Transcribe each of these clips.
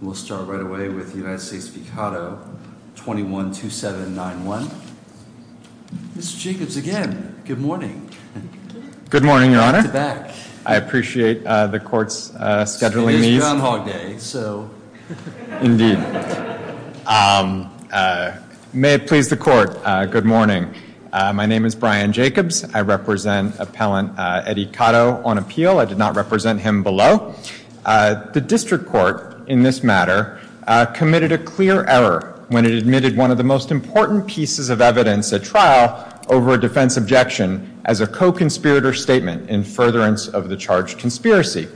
We'll start right away with United States v. Cotto, 21-2791. Mr. Jacobs, again, good morning. Good morning, Your Honor. Back to back. I appreciate the Court's scheduling needs. It is Groundhog Day, so. Indeed. May it please the Court, good morning. My name is Brian Jacobs. I represent Appellant Eddie Cotto on appeal. I did not represent him below. The District Court, in this matter, committed a clear error when it admitted one of the most important pieces of evidence at trial over a defense objection as a co-conspirator statement in furtherance of the charge conspiracy.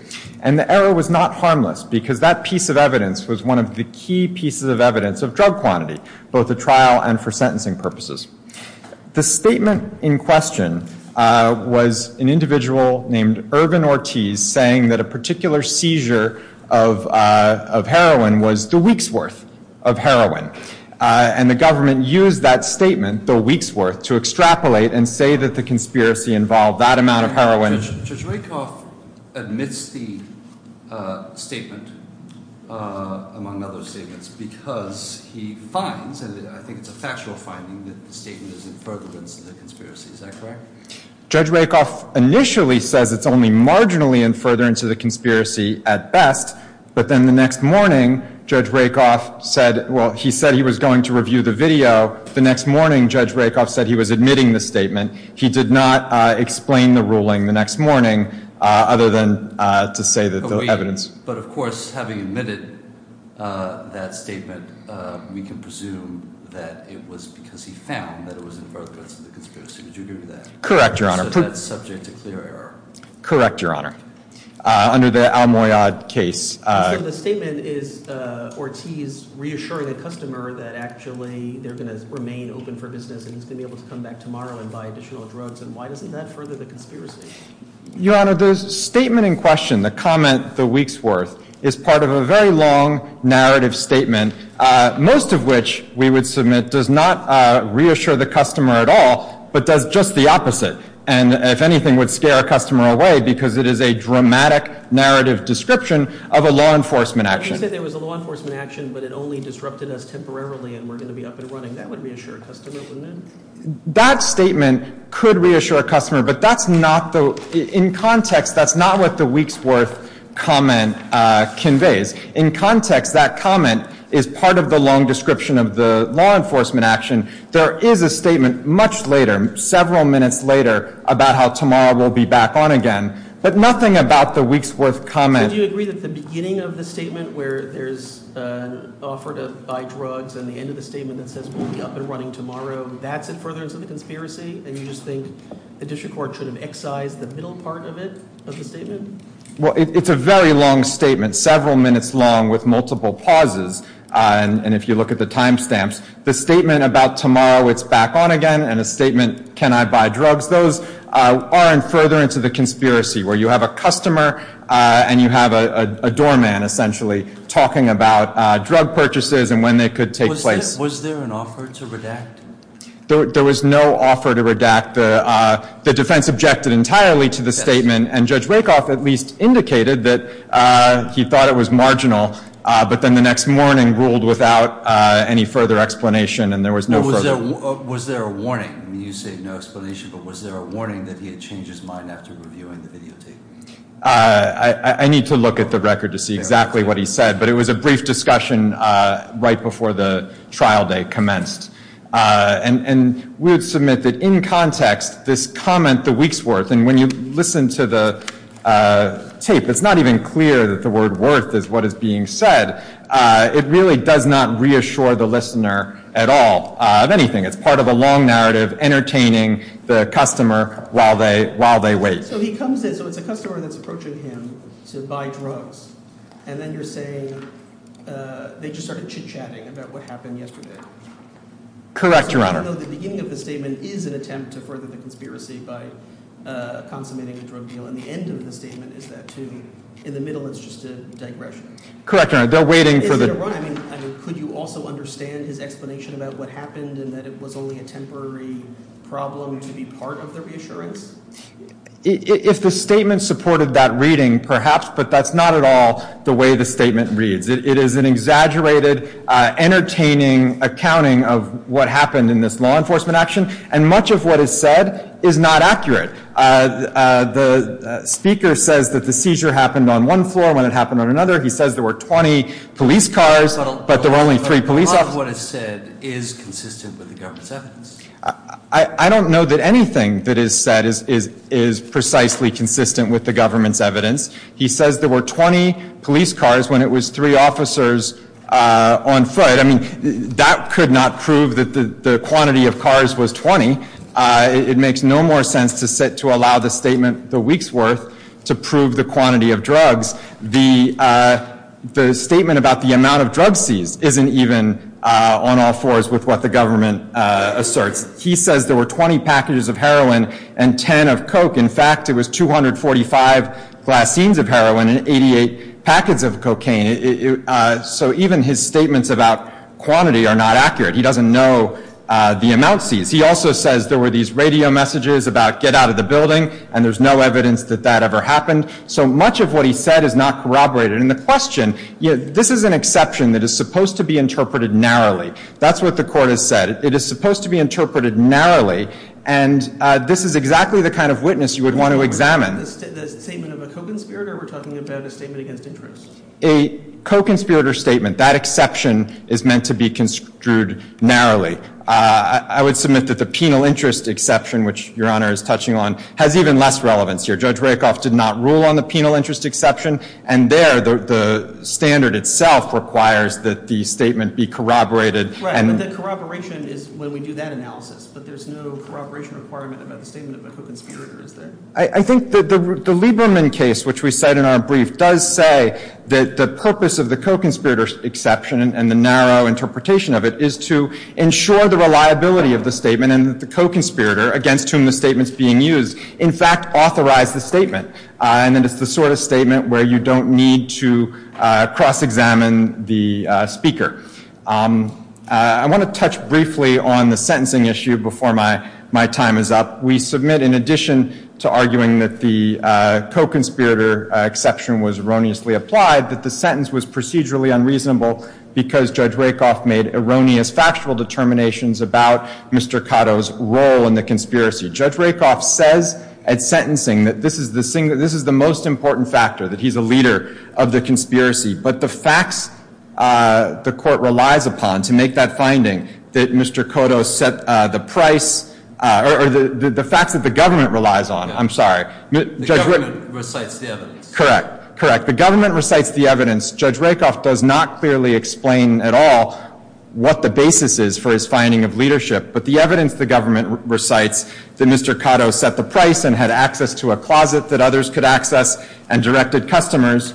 And the error was not harmless because that piece of evidence was one of the key pieces of evidence of drug quantity, both at trial and for sentencing purposes. The statement in question was an individual named Irvin Ortiz saying that a particular seizure of heroin was the week's worth of heroin. And the government used that statement, the week's worth, to extrapolate and say that the conspiracy involved that amount of heroin. Judge Rakoff admits the statement, among other statements, because he finds, and I think it's a factual finding, that the statement is in furtherance of the conspiracy. Is that correct? Judge Rakoff initially says it's only marginally in furtherance of the conspiracy at best, but then the next morning Judge Rakoff said, well, he said he was going to review the video. The next morning Judge Rakoff said he was admitting the statement. He did not explain the ruling the next morning, other than to say that the evidence... But of course, having admitted that statement, we can presume that it was because he found that it was in furtherance of the conspiracy. Did you do that? Correct, Your Honor. So that's subject to clear error. Correct, Your Honor. Under the Al-Muyad case... So the statement is Ortiz reassuring a customer that actually they're going to remain open for business and he's going to be able to come back tomorrow and buy additional drugs. And why doesn't that further the conspiracy? Your Honor, the statement in question, the comment, the week's worth, is part of a very long narrative statement, most of which we would submit does not reassure the customer at all, but does just the opposite. And if anything, would scare a customer away because it is a dramatic narrative description of a law enforcement action. You said there was a law enforcement action, but it only disrupted us temporarily and we're going to be up and running. That would reassure a customer, wouldn't it? That statement could reassure a customer, but that's not the... In context, that's not what the week's worth comment conveys. In context, that comment is part of the long description of the law enforcement action. There is a statement much later, several minutes later, about how tomorrow we'll be back on again, but nothing about the week's worth comment. So do you agree that the beginning of the statement where there's an offer to buy drugs and the end of the statement that says we'll be up and running tomorrow, that's it furthers the conspiracy? And you just think the district court should have excised the middle part of it, of the statement? Well, it's a very long statement, several minutes long with multiple pauses. And if you look at the time stamps, the statement about tomorrow it's back on again and the statement can I buy drugs, those are in furtherance of the conspiracy where you have a customer and you have a doorman, essentially, talking about drug purchases and when they could take place. Was there an offer to redact? There was no offer to redact. The defense objected entirely to the statement and Judge Rakoff at least indicated that he thought it was marginal, but then the next morning ruled without any further explanation and there was no further... Was there a warning? You say no explanation, but was there a warning that he had changed his mind after reviewing the videotape? I need to look at the record to see exactly what he said, but it was a brief discussion right before the trial day commenced. And we would submit that in context, this comment, the week's worth, and when you listen to the tape, it's not even clear that the word worth is what is being said. It really does not reassure the listener at all of anything. It's part of a long narrative entertaining the customer while they wait. So he comes in, so it's a customer that's approaching him to buy drugs and then you're saying they just started chit-chatting about what happened yesterday. Correct, Your Honor. So even though the beginning of the statement is an attempt to further the conspiracy by consummating the drug deal and the end of the statement is that too, in the middle it's just a digression. Correct, Your Honor. They're waiting for the... Is it a run? I mean, could you also understand his explanation about what happened and that it was only a temporary problem to be part of the reassurance? If the statement supported that reading, perhaps, but that's not at all the way the statement reads. It is an exaggerated, entertaining accounting of what happened in this law enforcement action, and much of what is said is not accurate. The speaker says that the seizure happened on one floor when it happened on another. He says there were 20 police cars, but there were only three police officers. But a lot of what is said is consistent with the government's evidence. I don't know that anything that is said is precisely consistent with the government's evidence. He says there were 20 police cars when it was three officers on foot. I mean, that could not prove that the quantity of cars was 20. It makes no more sense to allow the statement the week's worth to prove the quantity of drugs. The statement about the amount of drugs seized isn't even on all fours with what the government asserts. He says there were 20 packages of heroin and 10 of coke. In fact, it was 245 glassines of heroin and 88 packets of cocaine. So even his statements about quantity are not accurate. He doesn't know the amount seized. He also says there were these radio messages about get out of the building, and there's no evidence that that ever happened. So much of what he said is not corroborated. And the question, this is an exception that is supposed to be interpreted narrowly. That's what the Court has said. It is supposed to be interpreted narrowly, and this is exactly the kind of witness you would want to examine. The statement of a co-conspirator, or we're talking about a statement against interest? A co-conspirator statement, that exception is meant to be construed narrowly. I would submit that the penal interest exception, which Your Honor is touching on, has even less relevance here. Judge Rakoff did not rule on the penal interest exception, and there the standard itself requires that the statement be corroborated. Right, but the corroboration is when we do that analysis, but there's no corroboration requirement about the statement of a co-conspirator, is there? I think that the Lieberman case, which we cite in our brief, does say that the purpose of the co-conspirator exception and the narrow interpretation of it is to ensure the reliability of the statement and that the co-conspirator against whom the statement's being used, in fact, authorized the statement. And that it's the sort of statement where you don't need to cross-examine the speaker. I want to touch briefly on the sentencing issue before my time is up. We submit, in addition to arguing that the co-conspirator exception was erroneously applied, that the sentence was procedurally unreasonable because Judge Rakoff made erroneous factual determinations about Mr. Cotto's role in the conspiracy. Judge Rakoff says at sentencing that this is the most important factor, that he's a leader of the conspiracy. But the facts the Court relies upon to make that finding, that Mr. Cotto set the price, or the facts that the government relies on, I'm sorry. The government recites the evidence. Correct, correct. The government recites the evidence. Judge Rakoff does not clearly explain at all what the basis is for his finding of leadership. But the evidence the government recites, that Mr. Cotto set the price and had access to a closet that others could access and directed customers,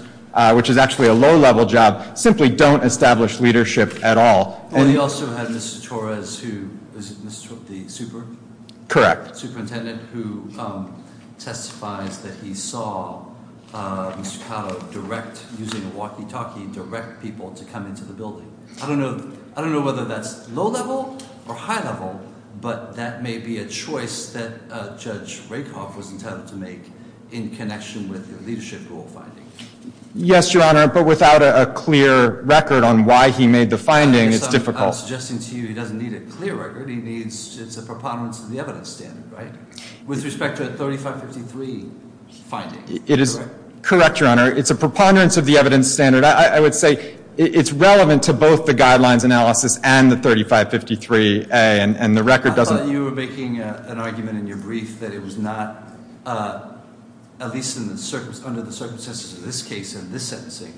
which is actually a low-level job, simply don't establish leadership at all. Well, he also had Mr. Torres, who is the superintendent, who testifies that he saw Mr. Cotto direct, using a walkie-talkie, direct people to come into the building. I don't know whether that's low-level or high-level, but that may be a choice that Judge Rakoff was entitled to make in connection with the leadership rule finding. Yes, Your Honor, but without a clear record on why he made the finding, it's difficult. I guess I'm suggesting to you he doesn't need a clear record. He needs a preponderance of the evidence standard, right, with respect to a 3553 finding. It is correct, Your Honor. It's a preponderance of the evidence standard. I would say it's relevant to both the Guidelines Analysis and the 3553A, and the record doesn't Well, you were making an argument in your brief that it was not, at least under the circumstances of this case and this sentencing,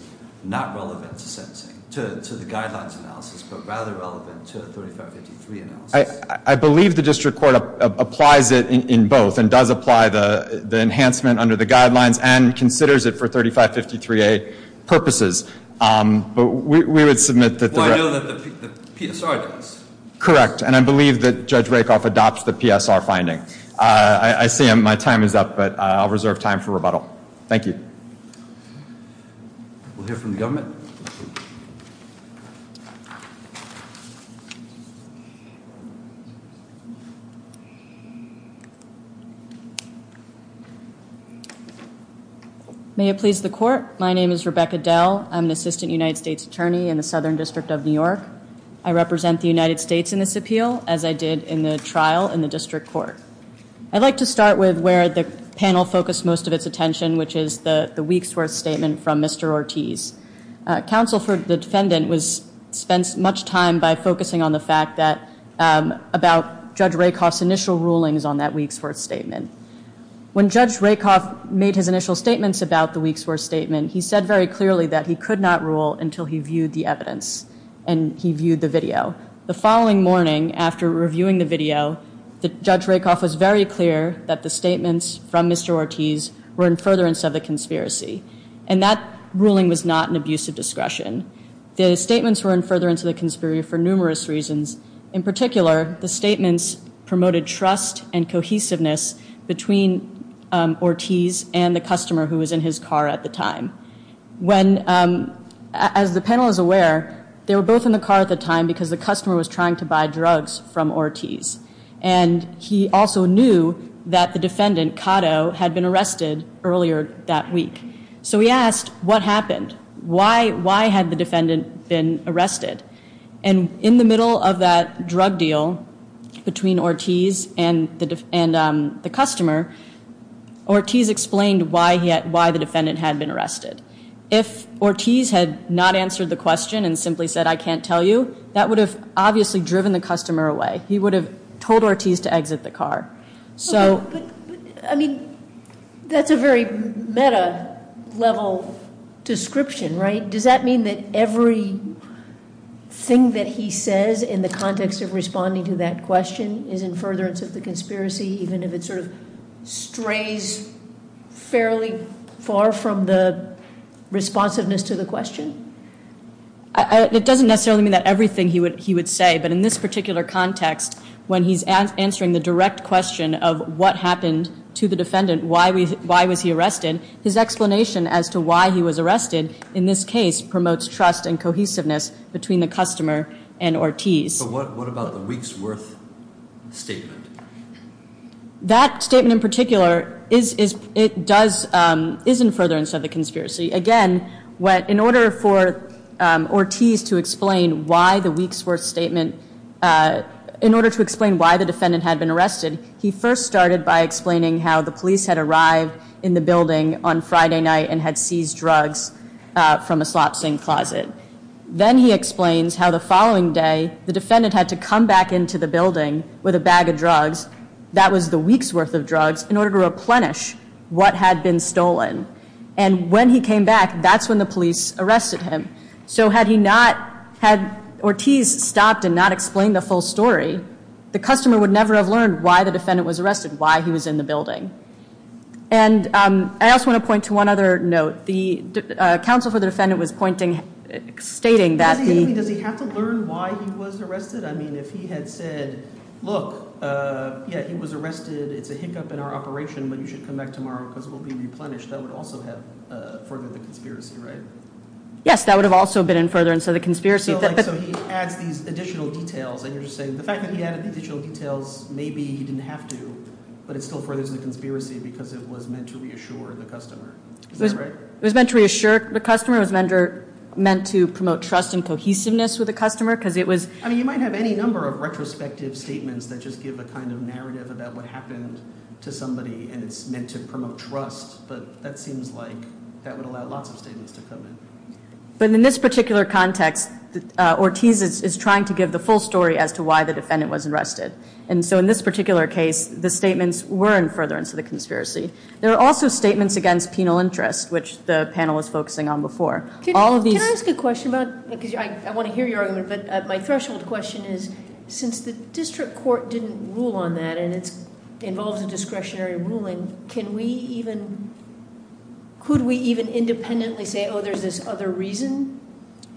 not relevant to sentencing, to the Guidelines Analysis, but rather relevant to the 3553 analysis. I believe the district court applies it in both and does apply the enhancement under the Guidelines and considers it for 3553A purposes, but we would submit that the record Well, I know that the PSR does. Correct, and I believe that Judge Rakoff adopts the PSR finding. I see my time is up, but I'll reserve time for rebuttal. Thank you. We'll hear from the government. May it please the Court. My name is Rebecca Dell. I'm an Assistant United States Attorney in the Southern District of New York. I represent the United States in this appeal, as I did in the trial in the district court. I'd like to start with where the panel focused most of its attention, which is the Weeksworth Statement from Mr. Ortiz. Counsel for the defendant was, spent much time by focusing on the fact that, about Judge Rakoff's initial rulings on that Weeksworth Statement. When Judge Rakoff made his initial statements about the Weeksworth Statement, he said very clearly that he could not rule until he viewed the evidence and he viewed the video. The following morning, after reviewing the video, Judge Rakoff was very clear that the statements from Mr. Ortiz were in furtherance of the conspiracy, and that ruling was not an abuse of discretion. The statements were in furtherance of the conspiracy for numerous reasons. In particular, the statements promoted trust and cohesiveness between Ortiz and the customer who was in his car at the time. When, as the panel is aware, they were both in the car at the time because the customer was trying to buy drugs from Ortiz. And he also knew that the defendant, Cotto, had been arrested earlier that week. So he asked, what happened? Why had the defendant been arrested? And in the middle of that drug deal between Ortiz and the customer, Ortiz explained why the defendant had been arrested. If Ortiz had not answered the question and simply said, I can't tell you, that would have obviously driven the customer away. He would have told Ortiz to exit the car. But, I mean, that's a very meta-level description, right? Does that mean that everything that he says in the context of responding to that question is in furtherance of the conspiracy, even if it sort of strays fairly far from the responsiveness to the question? It doesn't necessarily mean that everything he would say, but in this particular context, when he's answering the direct question of what happened to the defendant, why was he arrested, his explanation as to why he was arrested in this case promotes trust and cohesiveness between the customer and Ortiz. But what about the Weeksworth statement? That statement in particular is in furtherance of the conspiracy. Again, in order for Ortiz to explain why the Weeksworth statement, in order to explain why the defendant had been arrested, he first started by explaining how the police had arrived in the building on Friday night and had seized drugs from a slop sink closet. Then he explains how the following day the defendant had to come back into the building with a bag of drugs, that was the Weeksworth of drugs, in order to replenish what had been stolen. And when he came back, that's when the police arrested him. So had he not, had Ortiz stopped and not explained the full story, the customer would never have learned why the defendant was arrested, why he was in the building. And I also want to point to one other note. The counsel for the defendant was stating that the— Does he have to learn why he was arrested? I mean, if he had said, look, yeah, he was arrested, it's a hiccup in our operation, but you should come back tomorrow because we'll be replenished, that would also have furthered the conspiracy, right? Yes, that would have also been in furtherance of the conspiracy. So he adds these additional details, and you're just saying the fact that he added the additional details, maybe he didn't have to, but it still furthers the conspiracy because it was meant to reassure the customer. Is that right? It was meant to reassure the customer. It was meant to promote trust and cohesiveness with the customer because it was— I mean, you might have any number of retrospective statements that just give a kind of narrative about what happened to somebody, and it's meant to promote trust, but that seems like that would allow lots of statements to come in. But in this particular context, Ortiz is trying to give the full story as to why the defendant was arrested. And so in this particular case, the statements were in furtherance of the conspiracy. There were also statements against penal interest, which the panel was focusing on before. Can I ask a question about—because I want to hear your argument, but my threshold question is since the district court didn't rule on that and it involves a discretionary ruling, can we even—could we even independently say, oh, there's this other reason?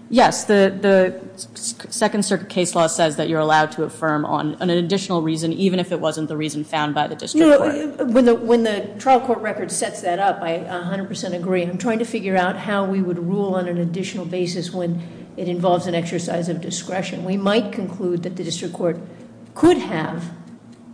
Yes, the Second Circuit case law says that you're allowed to affirm on an additional reason, even if it wasn't the reason found by the district court. When the trial court record sets that up, I 100% agree. I'm trying to figure out how we would rule on an additional basis when it involves an exercise of discretion. We might conclude that the district court could have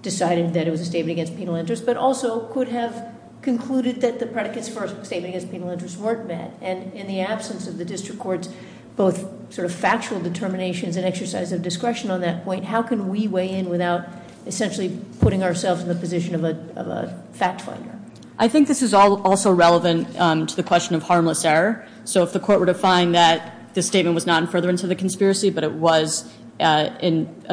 decided that it was a statement against penal interest but also could have concluded that the predicates for a statement against penal interest weren't met. And in the absence of the district court's both sort of factual determinations and exercise of discretion on that point, how can we weigh in without essentially putting ourselves in the position of a fact finder? I think this is also relevant to the question of harmless error. So if the court were to find that the statement was not in furtherance of the conspiracy but it was a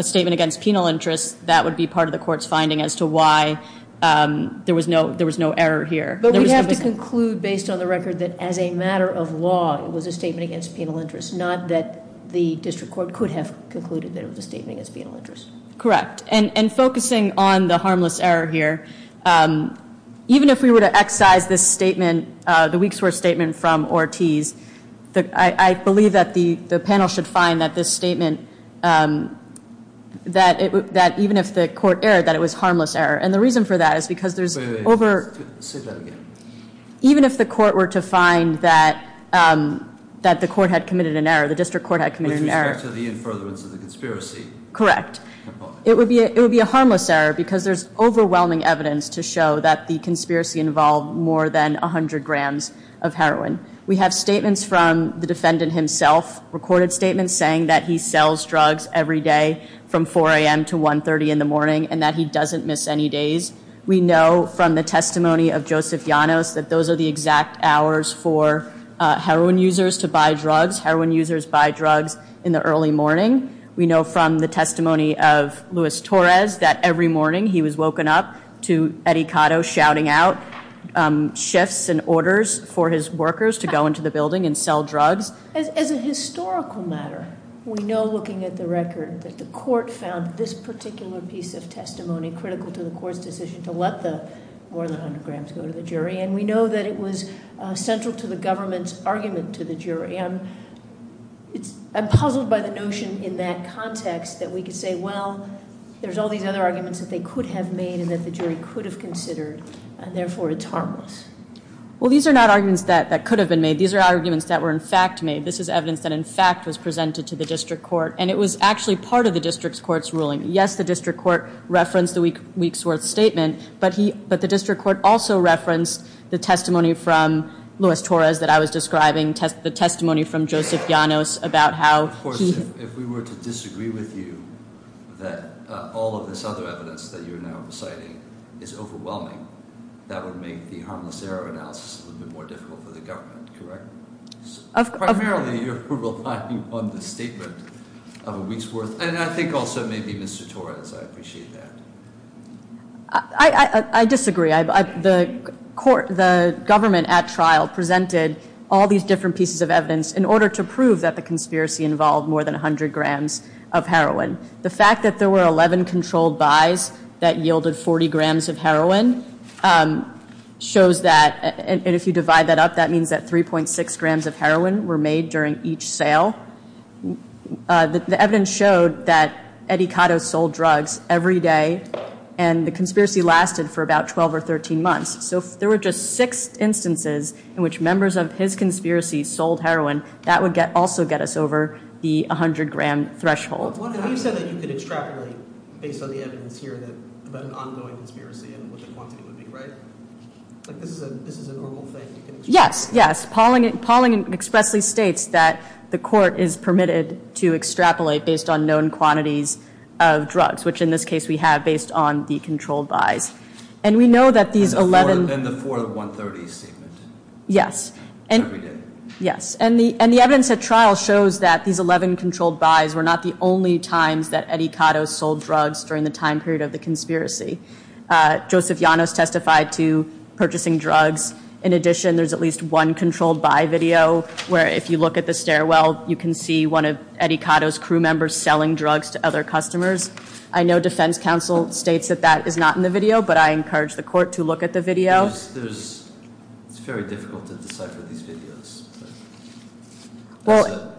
statement against penal interest, that would be part of the court's finding as to why there was no error here. But we have to conclude based on the record that as a matter of law it was a statement against penal interest, not that the district court could have concluded that it was a statement against penal interest. Correct. And focusing on the harmless error here, even if we were to excise this statement, the weeks worth statement from Ortiz, I believe that the panel should find that this statement, that even if the court erred, that it was harmless error. And the reason for that is because there's over- Say that again. Even if the court were to find that the court had committed an error, the district court had committed an error. With respect to the in furtherance of the conspiracy. Correct. It would be a harmless error because there's overwhelming evidence to show that the conspiracy involved more than 100 grams of heroin. We have statements from the defendant himself, recorded statements saying that he sells drugs every day from 4 a.m. to 1.30 in the morning and that he doesn't miss any days. We know from the testimony of Joseph Llanos that those are the exact hours for heroin users to buy drugs. Heroin users buy drugs in the early morning. We know from the testimony of Luis Torres that every morning he was woken up to Eddie Cotto shouting out shifts and orders for his workers to go into the building and sell drugs. As a historical matter, we know looking at the record that the court found this particular piece of testimony critical to the court's decision to let the more than 100 grams go to the jury. And we know that it was central to the government's argument to the jury. I'm puzzled by the notion in that context that we could say, well, there's all these other arguments that they could have made and that the jury could have considered, and therefore it's harmless. Well, these are not arguments that could have been made. These are arguments that were in fact made. This is evidence that in fact was presented to the district court, and it was actually part of the district court's ruling. Yes, the district court referenced the week's worth statement, but the district court also referenced the testimony from Luis Torres that I was describing, the testimony from Joseph Llanos about how he- Of course, if we were to disagree with you, that all of this other evidence that you're now reciting is overwhelming, that would make the harmless error analysis a little bit more difficult for the government, correct? Primarily you're relying on the statement of a week's worth. And I think also maybe Mr. Torres, I appreciate that. I disagree. The government at trial presented all these different pieces of evidence in order to prove that the conspiracy involved more than 100 grams of heroin. The fact that there were 11 controlled buys that yielded 40 grams of heroin shows that, and if you divide that up, that means that 3.6 grams of heroin were made during each sale. The evidence showed that Eddie Cotto sold drugs every day, and the conspiracy lasted for about 12 or 13 months. So if there were just six instances in which members of his conspiracy sold heroin, that would also get us over the 100-gram threshold. You said that you could extrapolate based on the evidence here about an ongoing conspiracy and what the quantity would be, right? Like this is a normal thing. Yes, yes. Pauling expressly states that the court is permitted to extrapolate based on known quantities of drugs, which in this case we have based on the controlled buys. And we know that these 11- And the 4 to 130 statement. Yes. Every day. Yes. And the evidence at trial shows that these 11 controlled buys were not the only times that Eddie Cotto sold drugs during the time period of the conspiracy. Joseph Llanos testified to purchasing drugs. In addition, there's at least one controlled buy video where if you look at the stairwell, you can see one of Eddie Cotto's crew members selling drugs to other customers. I know defense counsel states that that is not in the video, but I encourage the court to look at the video. It's very difficult to decipher these videos. As a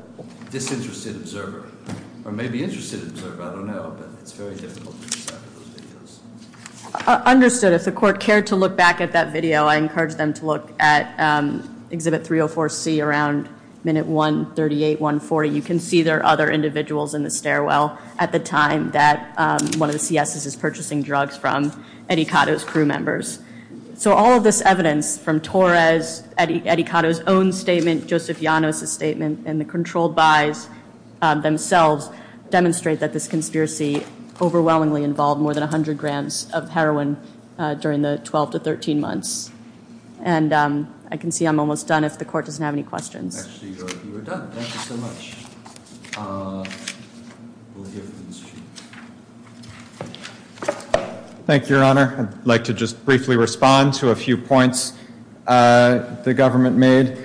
disinterested observer, or maybe interested observer, I don't know, but it's very difficult to decipher those videos. Understood. If the court cared to look back at that video, I encourage them to look at Exhibit 304C around minute 138, 140. You can see there are other individuals in the stairwell at the time that one of the CSs is purchasing drugs from Eddie Cotto's crew members. So all of this evidence from Torres, Eddie Cotto's own statement, Joseph Llanos' statement, and the controlled buys themselves demonstrate that this conspiracy overwhelmingly involved more than 100 grams of heroin during the 12 to 13 months. And I can see I'm almost done if the court doesn't have any questions. Actually, you are done. Thank you so much. Thank you, Your Honor. I'd like to just briefly respond to a few points the government made.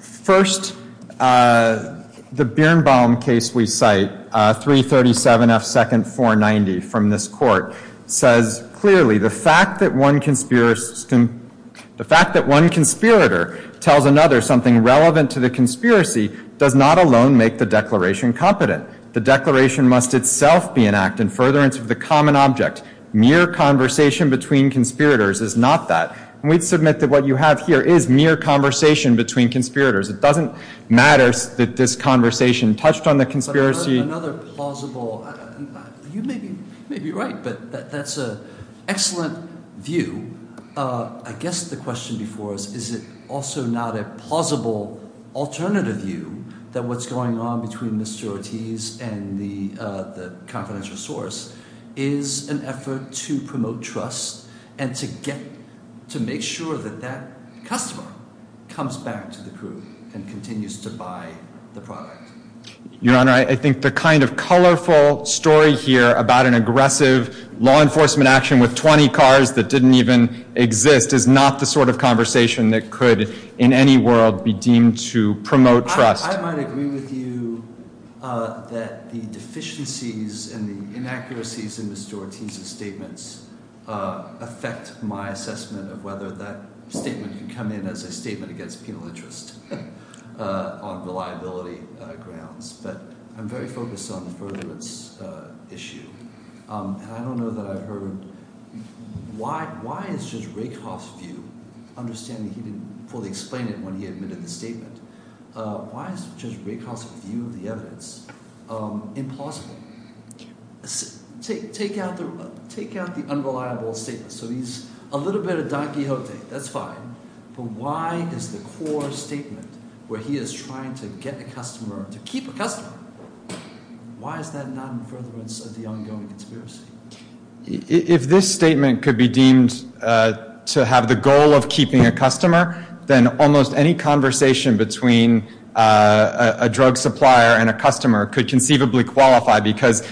First, the Birnbaum case we cite, 337F 2nd 490 from this court, says clearly, the fact that one conspirator tells another something relevant to the conspiracy does not alone make the declaration competent. The declaration must itself be an act in furtherance of the common object. Mere conversation between conspirators is not that. We'd submit that what you have here is mere conversation between conspirators. It doesn't matter that this conversation touched on the conspiracy. Another plausible, you may be right, but that's an excellent view. I guess the question before us, is it also not a plausible alternative view that what's going on between Mr. Ortiz and the confidential source is an effort to promote trust and to make sure that that customer comes back to the crew and continues to buy the product? Your Honor, I think the kind of colorful story here about an aggressive law enforcement action with 20 cars that didn't even exist is not the sort of conversation that could, in any world, be deemed to promote trust. I might agree with you that the deficiencies and the inaccuracies in Mr. Ortiz's statements affect my assessment of whether that statement can come in as a statement against penal interest on reliability grounds. But I'm very focused on the furtherance issue. And I don't know that I've heard, why is Judge Rakoff's view, understanding he didn't fully explain it when he admitted the statement, why is Judge Rakoff's view of the evidence impossible? Take out the unreliable statement. So he's a little bit of Don Quixote, that's fine. But why is the core statement, where he is trying to get a customer, to keep a customer, why is that not in furtherance of the ongoing conspiracy? If this statement could be deemed to have the goal of keeping a customer, then almost any conversation between a drug supplier and a customer could conceivably qualify, because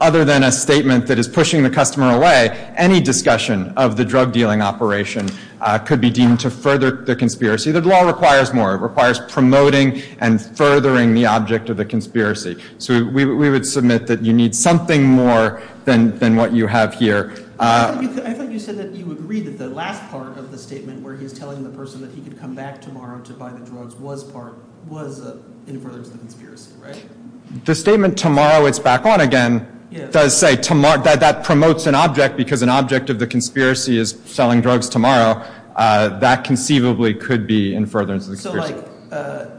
other than a statement that is pushing the customer away, any discussion of the drug dealing operation could be deemed to further the conspiracy. The law requires more. It requires promoting and furthering the object of the conspiracy. So we would submit that you need something more than what you have here. I thought you said that you would agree that the last part of the statement, where he's telling the person that he could come back tomorrow to buy the drugs, was in furtherance of the conspiracy, right? The statement, tomorrow it's back on again, does say that promotes an object, because an object of the conspiracy is selling drugs tomorrow. That conceivably could be in furtherance of the conspiracy.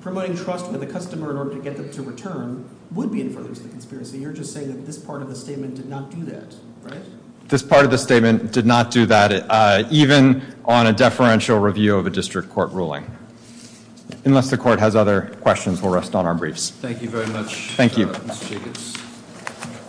Promoting trust with a customer in order to get them to return would be in furtherance of the conspiracy. You're just saying that this part of the statement did not do that, right? This part of the statement did not do that, even on a deferential review of a district court ruling. Unless the court has other questions, we'll rest on our briefs. Thank you very much, Mr. Jacobs.